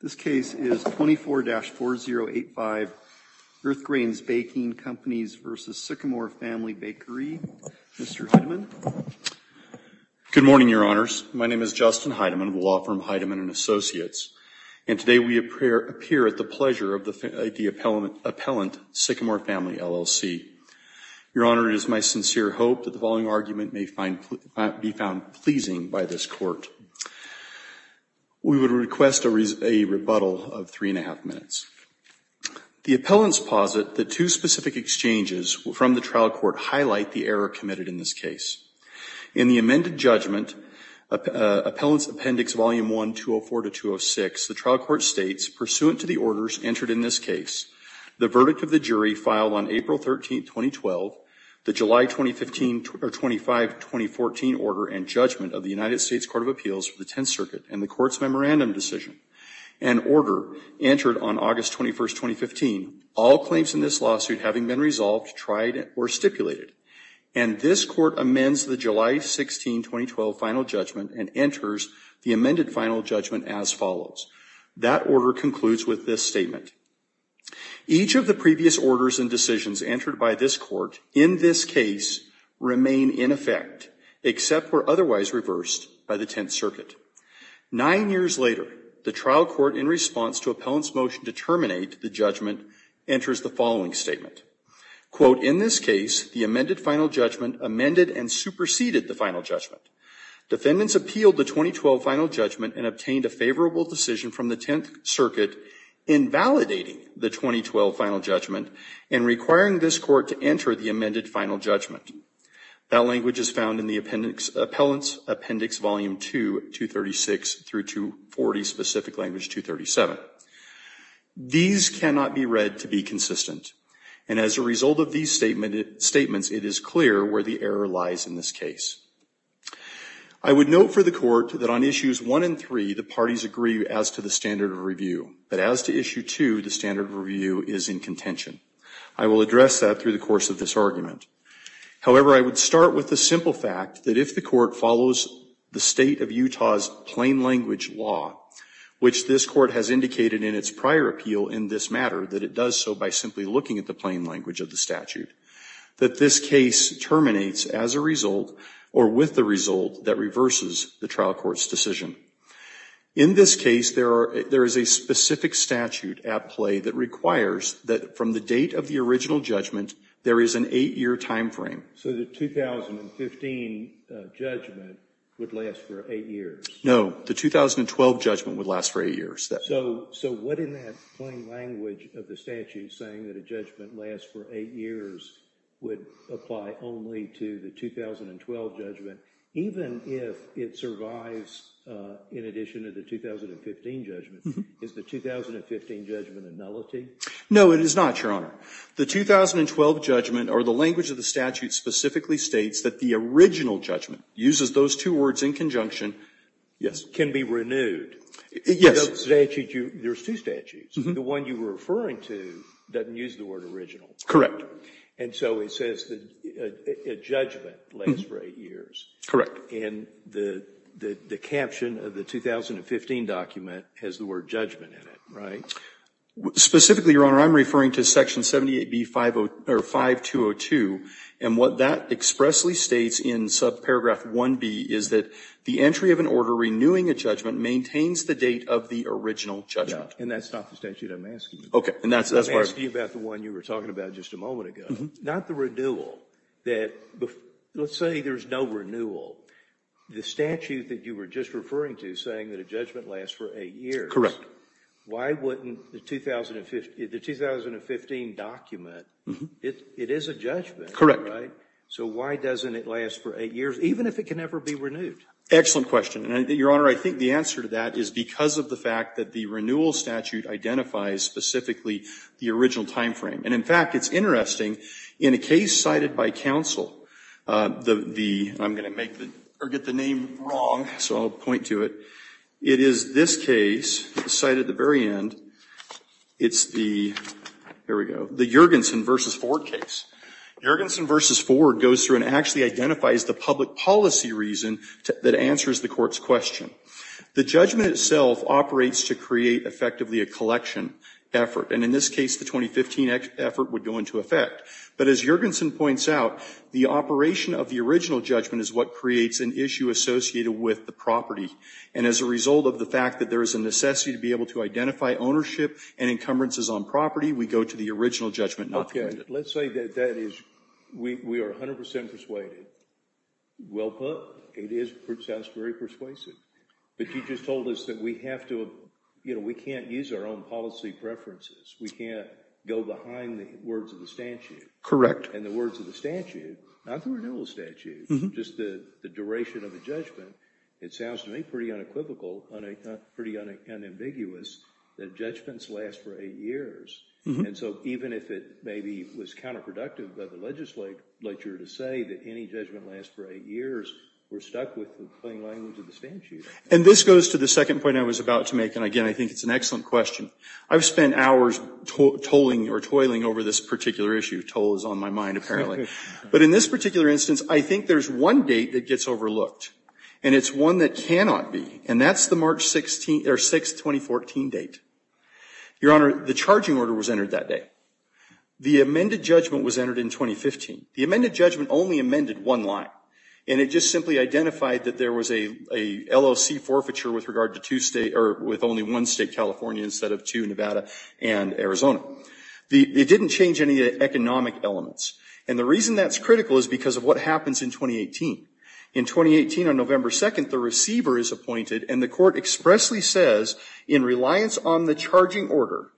This case is 24-4085 Earthgrains Baking Companies v. Sycamore Family Bakery. Mr. Heidemann. Good morning, Your Honors. My name is Justin Heidemann of the law firm Heidemann & Associates, and today we appear at the pleasure of the appellant, Sycamore Family, LLC. Your Honor, it is my sincere hope that the following argument may be found pleasing by this Court. We would request a rebuttal of three and a half minutes. The appellants posit that two specific exchanges from the trial court highlight the error committed in this case. In the amended judgment, Appellants Appendix Volume 1, 204-206, the trial court states, pursuant to the orders entered in this case, the verdict of the jury filed on April 13, 2012, the July 25, 2014 order and judgment of the United States Court of Appeals for the Tenth Circuit, and the Court's memorandum decision and order entered on August 21, 2015, all claims in this lawsuit having been resolved, tried, or stipulated. And this Court amends the July 16, 2012 final judgment and enters the amended final judgment as follows. That order concludes with this statement. Each of the previous orders and decisions entered by this Court in this case remain in effect, except for otherwise reversed by the Tenth Circuit. Nine years later, the trial court, in response to Appellant's motion to terminate the judgment, enters the following statement. Quote, in this case, the amended final judgment amended and superseded the final judgment. Defendants appealed the 2012 final judgment and obtained a favorable decision from the Tenth Circuit in validating the 2012 final judgment and requiring this Court to enter the amended final judgment. That language is found in the Appellant's Appendix Volume 2, 236 through 240, specific language 237. These cannot be read to be consistent. And as a result of these statements, it is clear where the error lies in this case. I would note for the Court that on Issues 1 and 3, the parties agree as to the standard of review. But as to Issue 2, the standard of review is in contention. I will address that through the course of this argument. However, I would start with the simple fact that if the Court follows the State of Utah's plain language law, which this Court has indicated in its prior appeal in this matter, that it does so by simply looking at the plain language of the statute, that this case terminates as a result or with the result that reverses the trial court's decision. In this case, there is a specific statute at play that requires that from the date of the original judgment, there is an eight-year time frame. So the 2015 judgment would last for eight years? No, the 2012 judgment would last for eight years. So what in that plain language of the statute saying that a judgment lasts for eight years would apply only to the 2012 judgment? Even if it survives in addition to the 2015 judgment, is the 2015 judgment a nullity? No, it is not, Your Honor. The 2012 judgment or the language of the statute specifically states that the original judgment uses those two words in conjunction. Yes. Can be renewed? Yes. There is two statutes. The one you were referring to doesn't use the word original. Correct. And so it says a judgment lasts for eight years. Correct. And the caption of the 2015 document has the word judgment in it, right? Specifically, Your Honor, I am referring to Section 78B-5202. And what that expressly states in subparagraph 1B is that the entry of an order renewing a judgment maintains the date of the original judgment. And that's not the statute I'm asking you about. I'm asking you about the one you were talking about just a moment ago. Not the renewal. Let's say there is no renewal. The statute that you were just referring to saying that a judgment lasts for eight years. Correct. Why wouldn't the 2015 document, it is a judgment, right? So why doesn't it last for eight years, even if it can never be renewed? Excellent question. Your Honor, I think the answer to that is because of the fact that the renewal statute identifies specifically the original time frame. And, in fact, it's interesting. In a case cited by counsel, the, I'm going to make the, or get the name wrong, so I'll point to it. It is this case cited at the very end. It's the, here we go, the Juergensen v. Ford case. Juergensen v. Ford goes through and actually identifies the public policy reason that answers the court's question. The judgment itself operates to create effectively a collection effort. And in this case, the 2015 effort would go into effect. But as Juergensen points out, the operation of the original judgment is what creates an issue associated with the property. And as a result of the fact that there is a necessity to be able to identify ownership and encumbrances on property, we go to the original judgment, not the Let's say that that is, we are 100 percent persuaded. Well put. It is, it sounds very persuasive. But you just told us that we have to, you know, we can't use our own policy preferences. We can't go behind the words of the statute. And the words of the statute, not the renewal statute, just the duration of the judgment, it sounds to me pretty unequivocal, pretty unambiguous, that judgments last for eight years. And so even if it maybe was counterproductive by the legislature to say that any judgment lasts for eight years, we're stuck with the plain language of the statute. And this goes to the second point I was about to make, and again, I think it's an excellent question. I've spent hours tolling or toiling over this particular issue. Toll is on my mind, apparently. But in this particular instance, I think there's one date that gets overlooked. And it's one that cannot be. And that's the March 16th, or 6th, 2014 date. Your Honor, the charging order was entered that day. The amended judgment was entered in 2015. The amended judgment only amended one line. And it just simply identified that there was a LLC forfeiture with regard to two states, or with only one state, California, instead of two, Nevada and Arizona. It didn't change any economic elements. And the reason that's critical is because of what happens in 2018. In 2018, on November 2nd, the receiver is appointed, and the court expressly says, in reliance on the charging order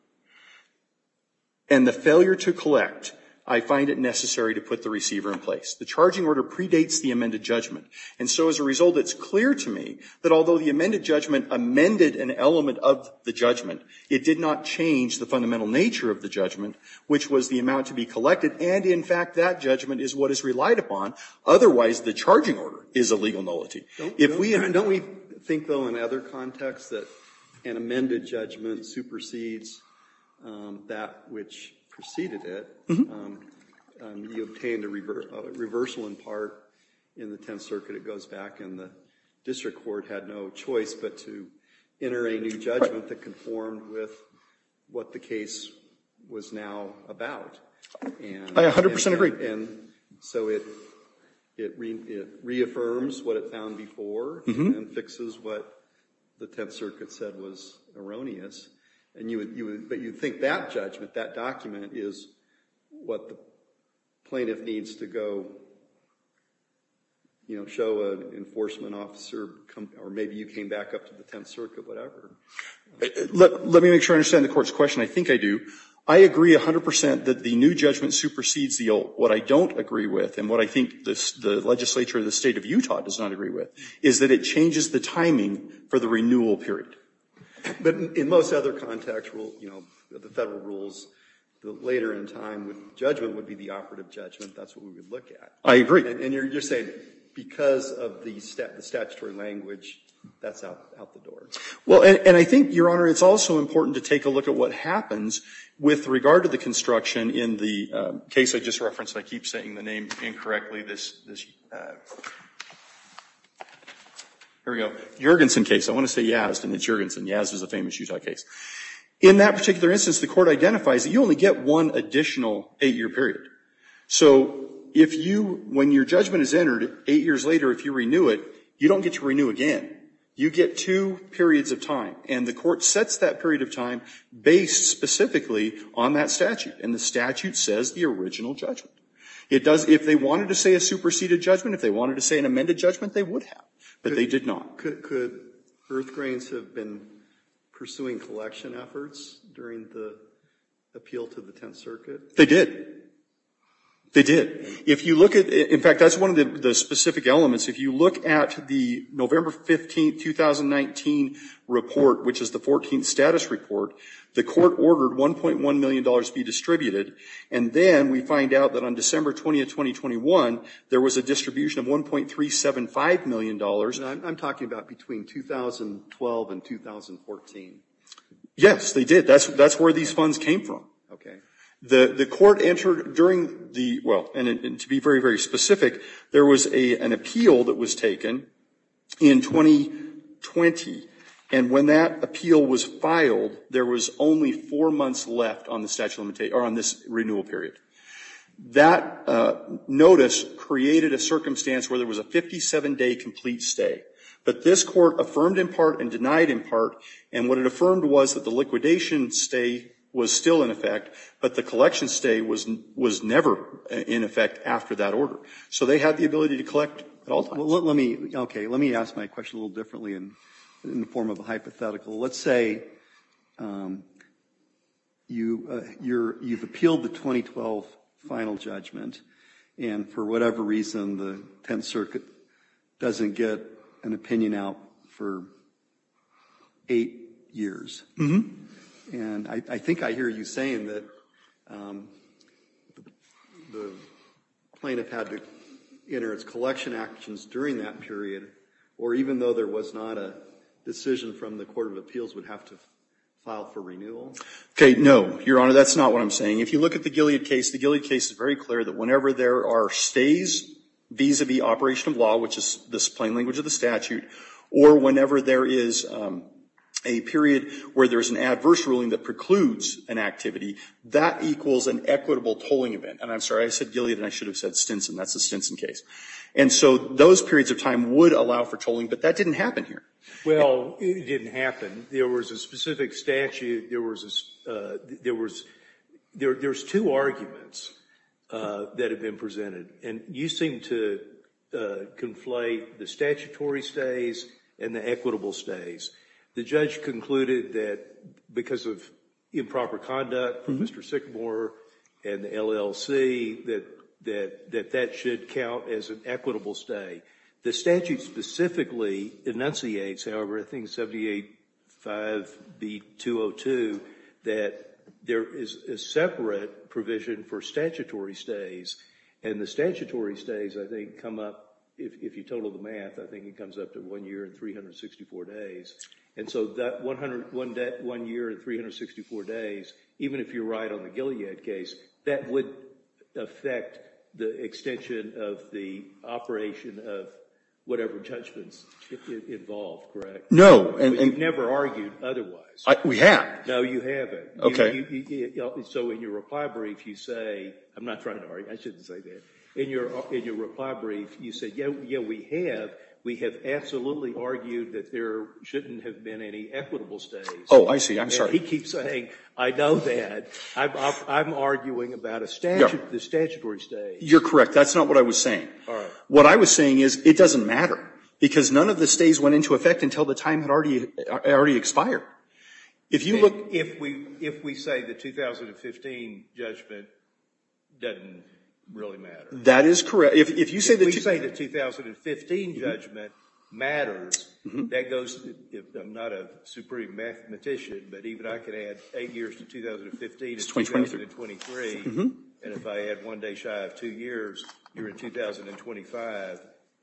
and the failure to collect, I find it necessary to put the receiver in place. The charging order predates the amended judgment. And so as a result, it's clear to me that although the amended judgment amended an element of the judgment, it did not change the fundamental nature of the judgment, which was the amount to be collected. And, in fact, that judgment is what is relied upon. Otherwise, the charging order is a legal nullity. If we have to think, though, in other contexts that an amended judgment supersedes that which preceded it, you obtained a reversal in part in the Tenth Circuit. It goes back, and the district court had no choice but to enter a new judgment that conformed with what the case was now about. I 100% agree. And so it reaffirms what it found before and fixes what the Tenth Circuit said was erroneous. But you'd think that judgment, that document, is what the plaintiff needs to go show an enforcement officer, or maybe you came back up to the Tenth Circuit, whatever. Let me make sure I understand the court's question. I think I do. I agree 100% that the new judgment supersedes the old. What I don't agree with, and what I think the legislature of the state of Utah does not agree with, is that it changes the timing for the renewal period. But in most other contexts, the federal rules, later in time, judgment would be the operative judgment. That's what we would look at. I agree. And you're saying because of the statutory language, that's out the door. Well, and I think, Your Honor, it's also important to take a look at what happens with regard to the construction in the case I just referenced. I keep saying the name incorrectly. Here we go. Juergensen case. I want to say Yazd, and it's Juergensen. Yazd is a famous Utah case. In that particular instance, the court identifies that you only get one additional eight-year period. So if you, when your judgment is entered, eight years later, if you renew it, you don't get to renew again. You get two periods of time. And the court sets that period of time based specifically on that statute. And the statute says the original judgment. It does, if they wanted to say a superseded judgment, if they wanted to say an amended judgment, they would have. But they did not. Could Earthgrains have been pursuing collection efforts during the appeal to the Tenth Circuit? They did. They did. If you look at, in fact, that's one of the specific elements. If you look at the November 15, 2019 report, which is the 14th status report, the court ordered $1.1 million be distributed. And then we find out that on December 20, 2021, there was a distribution of $1.375 million. And I'm talking about between 2012 and 2014. Yes, they did. That's where these funds came from. Okay. The court entered during the, well, and to be very, very specific, there was an appeal that was taken in 2020. And when that appeal was filed, there was only four months left on the statute of limitations, or on this renewal period. That notice created a circumstance where there was a 57-day complete stay. But this court affirmed in part and denied in part. And what it affirmed was that the liquidation stay was still in effect, but the collection stay was never in effect after that order. So they had the ability to collect at all times. Okay. Let me ask my question a little differently in the form of a hypothetical. Let's say you've appealed the 2012 final judgment, and for whatever reason, the Tenth Circuit doesn't get an opinion out for eight years. And I think I hear you saying that the plaintiff had to enter its collection actions during that period, or even though there was not a decision from the court of appeals would have to file for renewal. Okay, no, Your Honor, that's not what I'm saying. If you look at the Gilead case, the Gilead case is very clear that whenever there are stays vis-a-vis operation of law, which is the plain language of the statute, or whenever there is a period where there's an adverse ruling that precludes an activity, that equals an equitable tolling event. And I'm sorry, I said Gilead, and I should have said Stinson. That's the Stinson case. And so those periods of time would allow for tolling, but that didn't happen here. Well, it didn't happen. There was a specific statute. There was two arguments that have been presented, and you seem to conflate the statutory stays and the equitable stays. The judge concluded that because of improper conduct from Mr. Sycamore and the LLC, that that should count as an equitable stay. The statute specifically enunciates, however, I think 78-5B-202, that there is a separate provision for statutory stays, and the statutory stays, I think, come up, if you total the math, I think it comes up to one year and 364 days. And so that one year and 364 days, even if you're right on the Gilead case, that would affect the extension of the operation of whatever judgments involved, correct? No. You've never argued otherwise. We have. No, you haven't. Okay. So in your reply brief, you say, I'm not trying to argue. I shouldn't say that. In your reply brief, you say, yeah, we have. We have absolutely argued that there shouldn't have been any equitable stays. Oh, I see. I'm sorry. He keeps saying, I know that. I'm arguing about a statutory stay. You're correct. That's not what I was saying. All right. What I was saying is it doesn't matter, because none of the stays went into effect until the time had already expired. If you look at the 2015 judgment, it doesn't really matter. That is correct. If you say the 2015 judgment matters, that goes, I'm not a supreme mathematician, but even I can add eight years to 2015 and 2023. And if I add one day shy of two years, you're in 2025.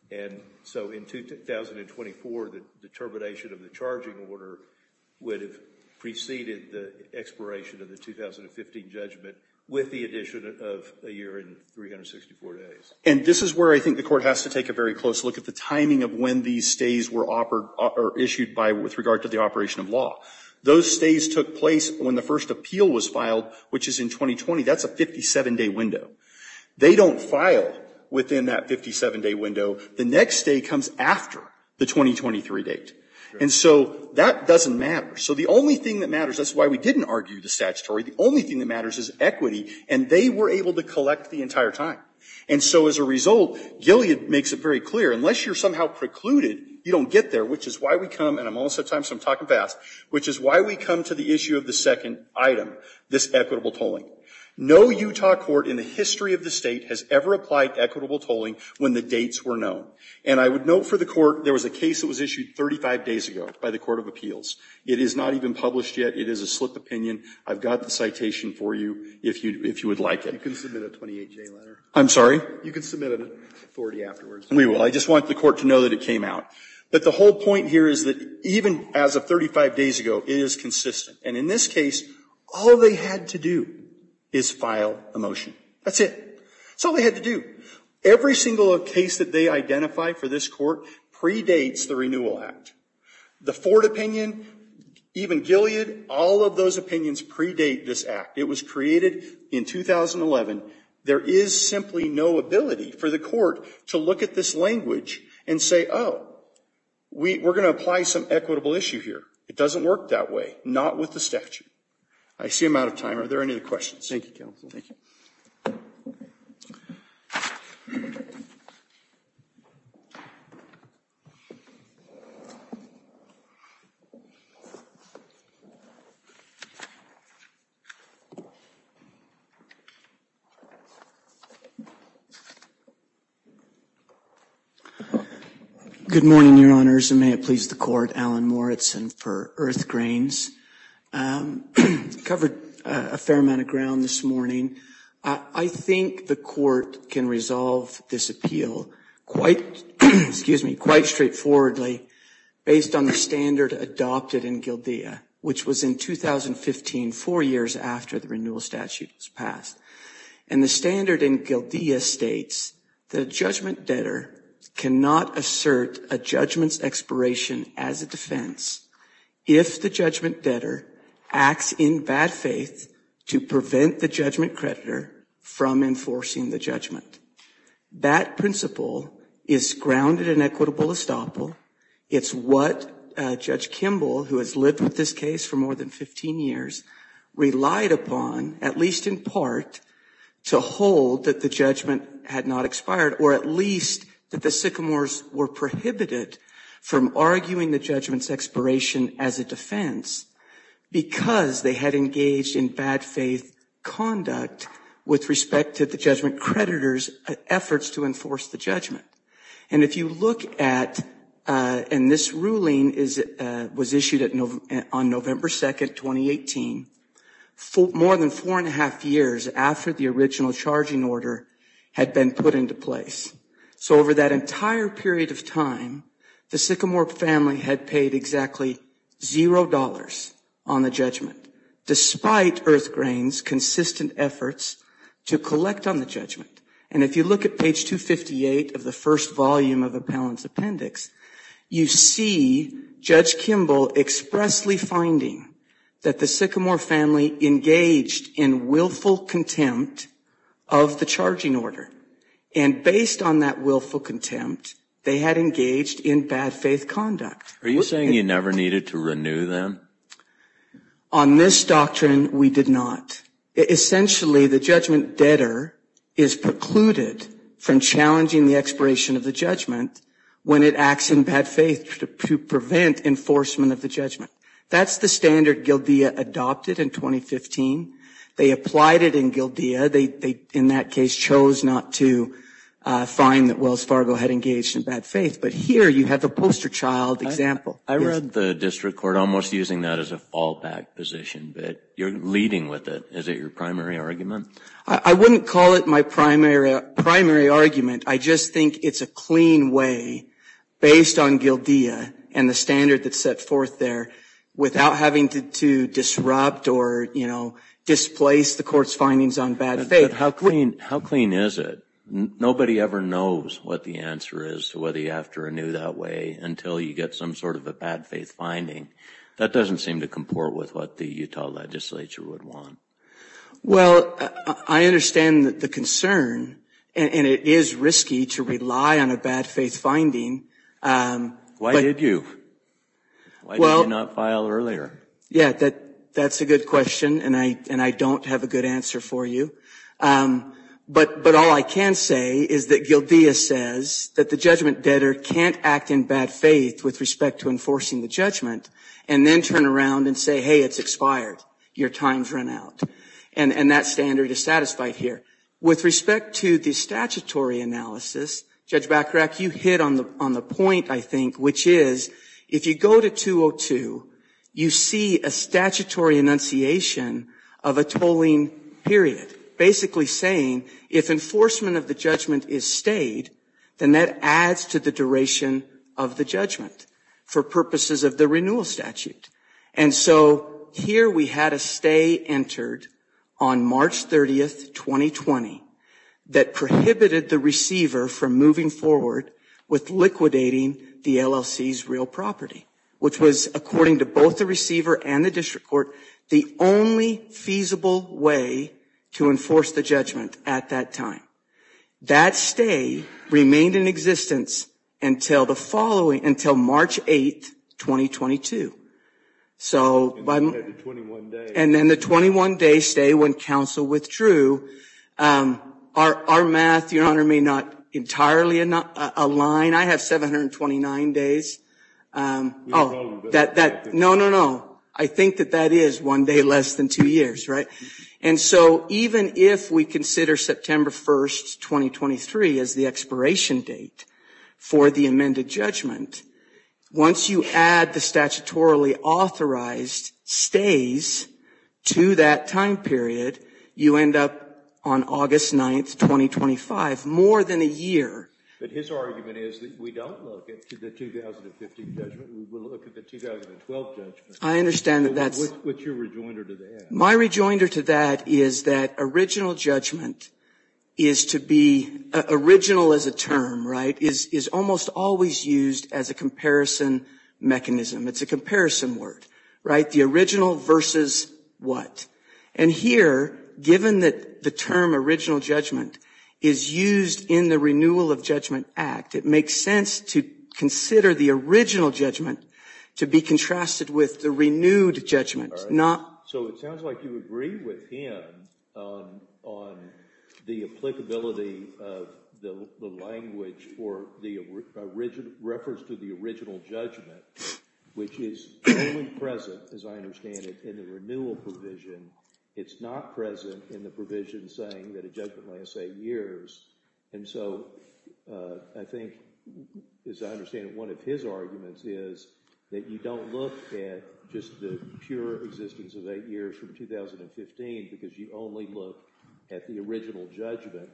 And so in 2024, the termination of the charging order would have preceded the expiration of the 2015 judgment with the addition of a year and 364 days. And this is where I think the Court has to take a very close look at the timing of when these stays were issued with regard to the operation of law. Those stays took place when the first appeal was filed, which is in 2020. That's a 57-day window. They don't file within that 57-day window. The next stay comes after the 2023 date. And so that doesn't matter. So the only thing that matters, that's why we didn't argue the statutory, the only thing that matters is equity, and they were able to collect the entire time. And so as a result, Gilead makes it very clear, unless you're somehow precluded, you don't get there, which is why we come, and I'm almost out of time, so I'm talking fast, which is why we come to the issue of the second item, this equitable tolling. No Utah court in the history of the State has ever applied equitable tolling when the dates were known. And I would note for the Court, there was a case that was issued 35 days ago by the Court of Appeals. It is not even published yet. It is a slip of opinion. I've got the citation for you if you would like it. You can submit a 28-J letter. I'm sorry? You can submit an authority afterwards. We will. I just want the Court to know that it came out. But the whole point here is that even as of 35 days ago, it is consistent. And in this case, all they had to do is file a motion. That's it. That's all they had to do. Every single case that they identify for this Court predates the Renewal Act. The Ford opinion, even Gilead, all of those opinions predate this Act. It was created in 2011. There is simply no ability for the Court to look at this language and say, oh, we're going to apply some equitable issue here. It doesn't work that way. Not with the statute. I see I'm out of time. Are there any other questions? Thank you, Counsel. Good morning, Your Honors, and may it please the Court. Alan Moritzen for Earth Grains. Covered a fair amount of ground this morning. I think the Court can resolve this appeal quite straightforwardly based on the standard adopted in GILDEA, which was in 2015, four years after the renewal statute was passed. And the standard in GILDEA states that a judgment debtor cannot assert a judgment's expiration as a defense if the judgment debtor acts in bad faith to prevent the judgment creditor from enforcing the judgment. That principle is grounded in equitable estoppel. It's what Judge Kimball, who has lived with this case for more than 15 years, relied upon, at least in part, to hold that the judgment had not expired, or at least that the sycamores were prohibited from arguing the judgment's expiration as a defense because they had engaged in bad faith conduct with respect to the judgment creditor's efforts to enforce the judgment. And if you look at – and this ruling was issued on November 2, 2018, more than four and a half years after the original charging order had been put into place. So over that entire period of time, the sycamore family had paid exactly $0 on the judgment, despite Earthgrain's consistent efforts to collect on the judgment. And if you look at page 258 of the first volume of Appellant's appendix, you see Judge Kimball expressly finding that the sycamore family engaged in willful contempt of the charging order. And based on that willful contempt, they had engaged in bad faith conduct. Are you saying you never needed to renew them? On this doctrine, we did not. Essentially, the judgment debtor is precluded from challenging the expiration of the judgment when it acts in bad faith to prevent enforcement of the judgment. That's the standard Gildia adopted in 2015. They applied it in Gildia. They, in that case, chose not to find that Wells Fargo had engaged in bad faith. But here you have the poster child example. I read the district court almost using that as a fallback position, but you're leading with it. Is it your primary argument? I wouldn't call it my primary argument. I just think it's a clean way, based on Gildia and the standard that's set forth there, without having to disrupt or, you know, displace the court's findings on bad faith. How clean is it? Nobody ever knows what the answer is to whether you have to renew that way until you get some sort of a bad faith finding. That doesn't seem to comport with what the Utah legislature would want. Well, I understand the concern, and it is risky to rely on a bad faith finding. Why did you? Why did you not file earlier? Yeah, that's a good question, and I don't have a good answer for you. But all I can say is that Gildia says that the judgment debtor can't act in bad faith with respect to enforcing the judgment, and then turn around and say, hey, it's expired. Your time's run out. And that standard is satisfied here. With respect to the statutory analysis, Judge Bachrach, you hit on the point, I think, which is if you go to 202, you see a statutory enunciation of a tolling period, basically saying if enforcement of the judgment is stayed, then that adds to the duration of the judgment for purposes of the renewal statute. And so here we had a stay entered on March 30, 2020, that prohibited the receiver from moving forward with liquidating the LLC's real property, which was, according to both the receiver and the district court, the only feasible way to enforce the judgment at that time. That stay remained in existence until March 8, 2022. And then the 21-day stay when counsel withdrew. Our math, Your Honor, may not entirely align. I have 729 days. No, no, no. I think that that is one day less than two years, right? And so even if we consider September 1, 2023, as the expiration date for the amended judgment, once you add the statutorily authorized stays to that time period, you end up on August 9, 2025, more than a year. But his argument is that we don't look at the 2015 judgment. We will look at the 2012 judgment. I understand that that's – What's your rejoinder to that? My rejoinder to that is that original judgment is to be – is always used as a comparison mechanism. It's a comparison word, right? The original versus what? And here, given that the term original judgment is used in the Renewal of Judgment Act, it makes sense to consider the original judgment to be contrasted with the renewed judgment, not – So it sounds like you agree with him on the applicability of the language for the – refers to the original judgment, which is only present, as I understand it, in the renewal provision. It's not present in the provision saying that a judgment lasts eight years. And so I think, as I understand it, one of his arguments is that you don't look at just the pure existence of eight years from 2015 because you only look at the original judgment.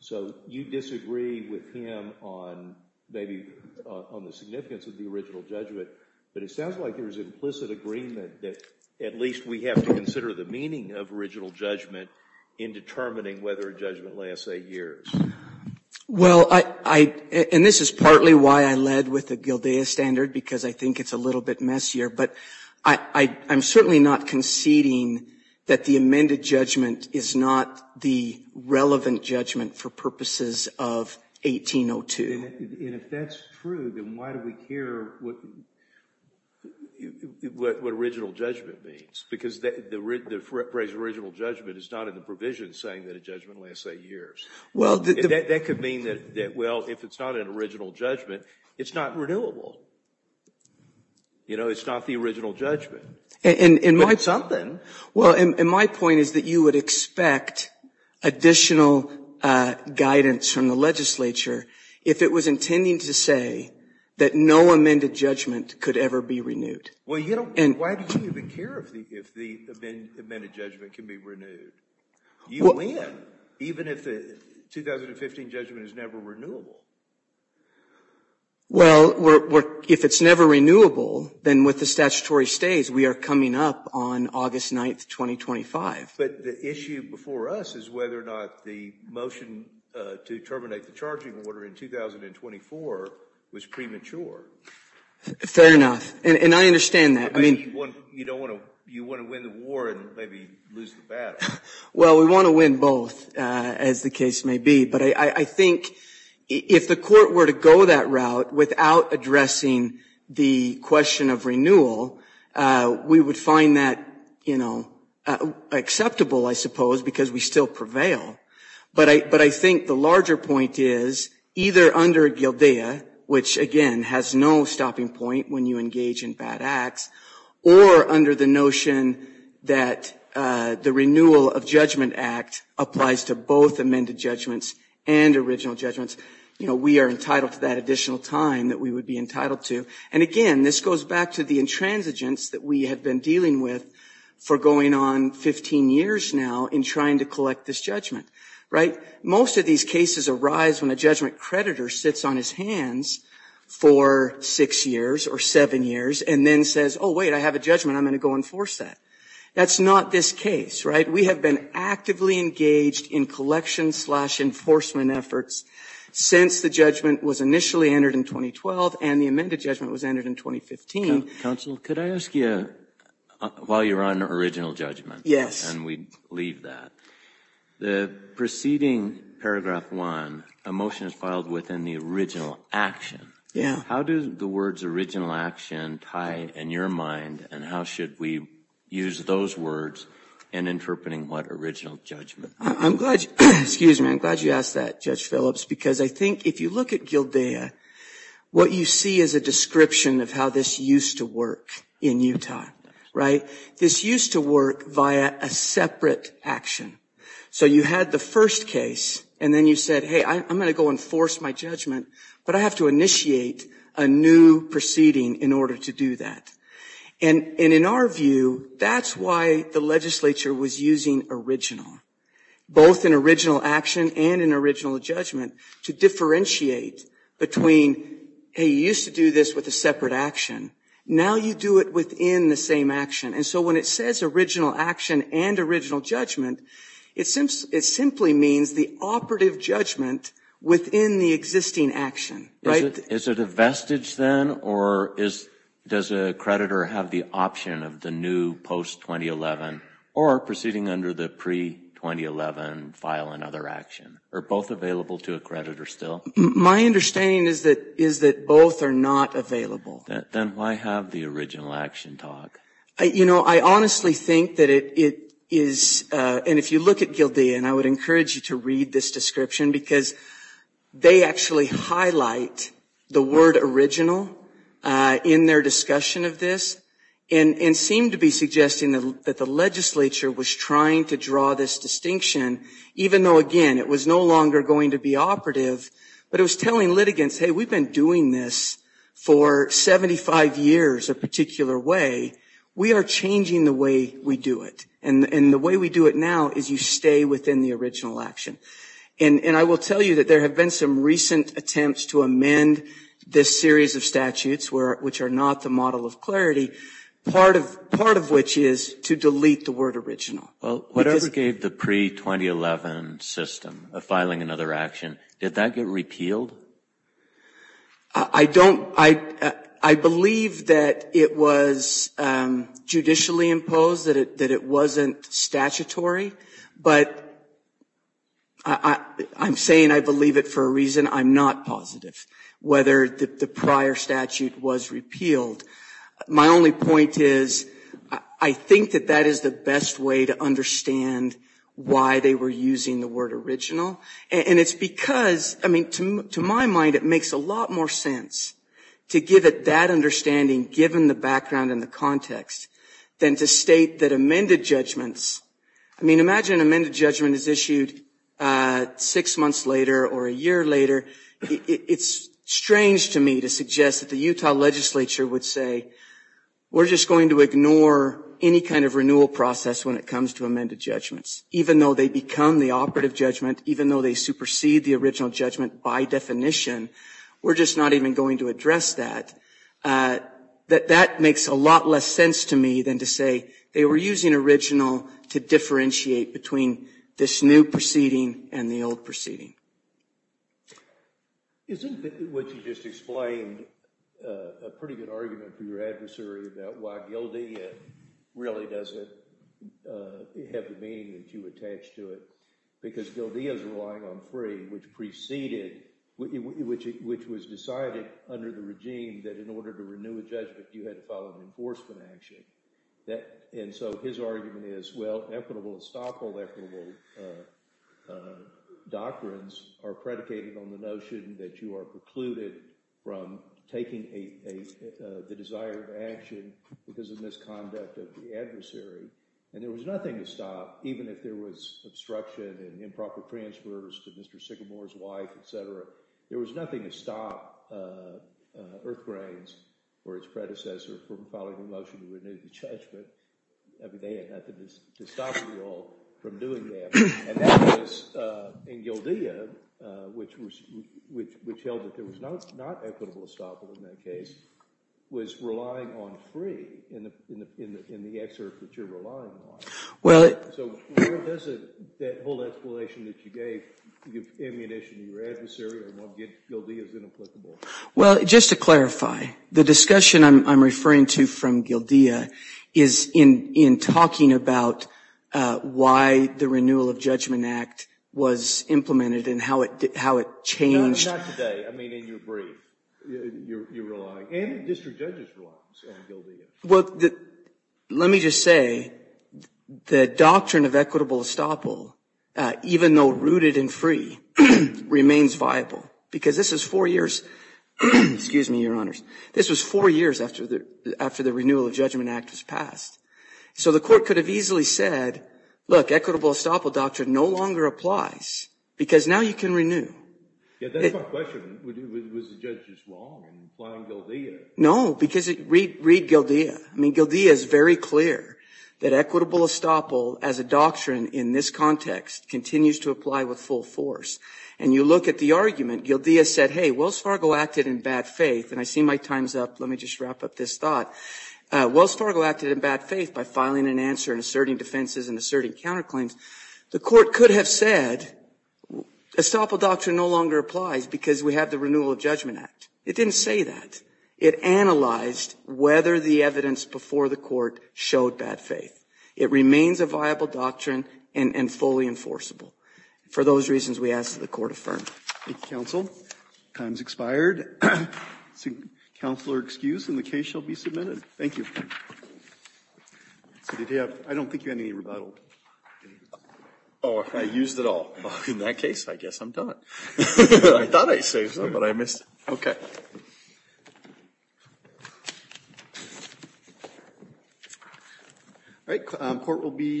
So you disagree with him on maybe – on the significance of the original judgment. But it sounds like there is implicit agreement that at least we have to consider the meaning of original judgment in determining whether a judgment lasts eight years. Well, I – and this is partly why I led with the GILDEA standard, because I think it's a little bit messier. But I'm certainly not conceding that the amended judgment is not the relevant judgment for purposes of 1802. And if that's true, then why do we care what original judgment means? Because the phrase original judgment is not in the provision saying that a judgment lasts eight years. Well, the – That could mean that, well, if it's not an original judgment, it's not renewable. You know, it's not the original judgment. But it's something. Well, and my point is that you would expect additional guidance from the legislature if it was intending to say that no amended judgment could ever be renewed. Well, you don't – why do you even care if the amended judgment can be renewed? You win, even if the 2015 judgment is never renewable. Well, we're – if it's never renewable, then with the statutory stays, we are coming up on August 9th, 2025. But the issue before us is whether or not the motion to terminate the charging order in 2024 was premature. Fair enough. And I understand that. I mean – You don't want to – you want to win the war and maybe lose the battle. Well, we want to win both, as the case may be. But I think if the court were to go that route without addressing the question of renewal, we would find that, you know, acceptable, I suppose, because we still prevail. But I think the larger point is either under GILDEA, which, again, has no stopping point when you engage in bad acts, or under the notion that the Renewal of Judgment Act applies to both amended judgments and original judgments. You know, we are entitled to that additional time that we would be entitled to. And, again, this goes back to the intransigence that we have been dealing with for going on 15 years now in trying to collect this judgment. Right? Most of these cases arise when a judgment creditor sits on his hands for 6 years or 7 years and then says, oh, wait, I have a judgment, I'm going to go enforce that. That's not this case. Right? We have been actively engaged in collection-slash-enforcement efforts since the judgment was initially entered in 2012 and the amended judgment was entered in 2015. Counsel, could I ask you, while you're on original judgments – Yes. And we leave that. The preceding paragraph 1, a motion is filed within the original action. Yeah. How do the words original action tie in your mind, and how should we use those words in interpreting what original judgment? I'm glad you asked that, Judge Phillips, because I think if you look at GILDEA, what you see is a description of how this used to work in Utah. Right? This used to work via a separate action. So you had the first case, and then you said, hey, I'm going to go enforce my judgment, but I have to initiate a new proceeding in order to do that. And in our view, that's why the legislature was using original, both an original action and an original judgment, to differentiate between, hey, you used to do this with a separate action. Now you do it within the same action. And so when it says original action and original judgment, it simply means the operative judgment within the existing action. Right? Is it a vestige then, or does a creditor have the option of the new post-2011 or proceeding under the pre-2011 file and other action? Are both available to a creditor still? My understanding is that both are not available. Then why have the original action talk? You know, I honestly think that it is, and if you look at GILDEA, and I would encourage you to read this description, because they actually highlight the word original in their discussion of this and seem to be suggesting that the legislature was trying to draw this distinction, even though, again, it was no longer going to be operative, but it was telling litigants, hey, we've been doing this for 75 years a particular way. We are changing the way we do it. And the way we do it now is you stay within the original action. And I will tell you that there have been some recent attempts to amend this series of statutes, which are not the model of clarity, part of which is to delete the word original. Well, whatever gave the pre-2011 system of filing another action, did that get repealed? I don't – I believe that it was judicially imposed, that it wasn't statutory. But I'm saying I believe it for a reason. I'm not positive whether the prior statute was repealed. My only point is I think that that is the best way to understand why they were using the word original. And it's because – I mean, to my mind, it makes a lot more sense to give it that understanding, given the background and the context, than to state that amended judgments – I mean, imagine an amended judgment is issued six months later or a year later. It's strange to me to suggest that the Utah legislature would say, we're just going to ignore any kind of renewal process when it comes to amended judgments, even though they become the operative judgment, even though they supersede the original judgment by definition. We're just not even going to address that. That makes a lot less sense to me than to say they were using original to differentiate between this new proceeding and the old proceeding. Isn't what you just explained a pretty good argument for your adversary about why GILDEA really doesn't have the meaning that you attached to it? Because GILDEA is relying on free, which preceded – which was decided under the regime that in order to renew a judgment, you had to file an enforcement action. And so his argument is, well, equitable and stockhold equitable doctrines are predicated on the notion that you are precluded from taking the desired action because of misconduct of the adversary. And there was nothing to stop, even if there was obstruction and improper transfers to Mr. Sycamore's wife, etc. There was nothing to stop Earth Grains or its predecessor from filing a motion to renew the judgment. I mean they had nothing to stop you all from doing that. And that was – and GILDEA, which held that there was not equitable stockholding in that case, was relying on free in the excerpt that you're relying on. So where does that whole explanation that you gave give ammunition to your adversary on why GILDEA is inapplicable? Well, just to clarify, the discussion I'm referring to from GILDEA is in talking about why the Renewal of Judgment Act was implemented and how it changed – No, not today. I mean in your brief. You're relying – and district judges rely on GILDEA. Well, let me just say the doctrine of equitable estoppel, even though rooted in free, remains viable. Because this is four years – excuse me, Your Honors. This was four years after the Renewal of Judgment Act was passed. So the Court could have easily said, look, equitable estoppel doctrine no longer applies because now you can renew. Yeah, that's my question. Was the judge just wrong in applying GILDEA? No, because – read GILDEA. I mean GILDEA is very clear that equitable estoppel as a doctrine in this context continues to apply with full force. And you look at the argument. GILDEA said, hey, Wells Fargo acted in bad faith. And I see my time's up. Let me just wrap up this thought. Wells Fargo acted in bad faith by filing an answer and asserting defenses and asserting counterclaims. The Court could have said estoppel doctrine no longer applies because we have the Renewal of Judgment Act. It didn't say that. It analyzed whether the evidence before the Court showed bad faith. It remains a viable doctrine and fully enforceable. For those reasons, we ask that the Court affirm. Thank you, counsel. Time's expired. Counselor excused, and the case shall be submitted. Thank you. I don't think you had any rebuttal. Oh, I used it all. In that case, I guess I'm done. I thought I saved some, but I missed it. Okay.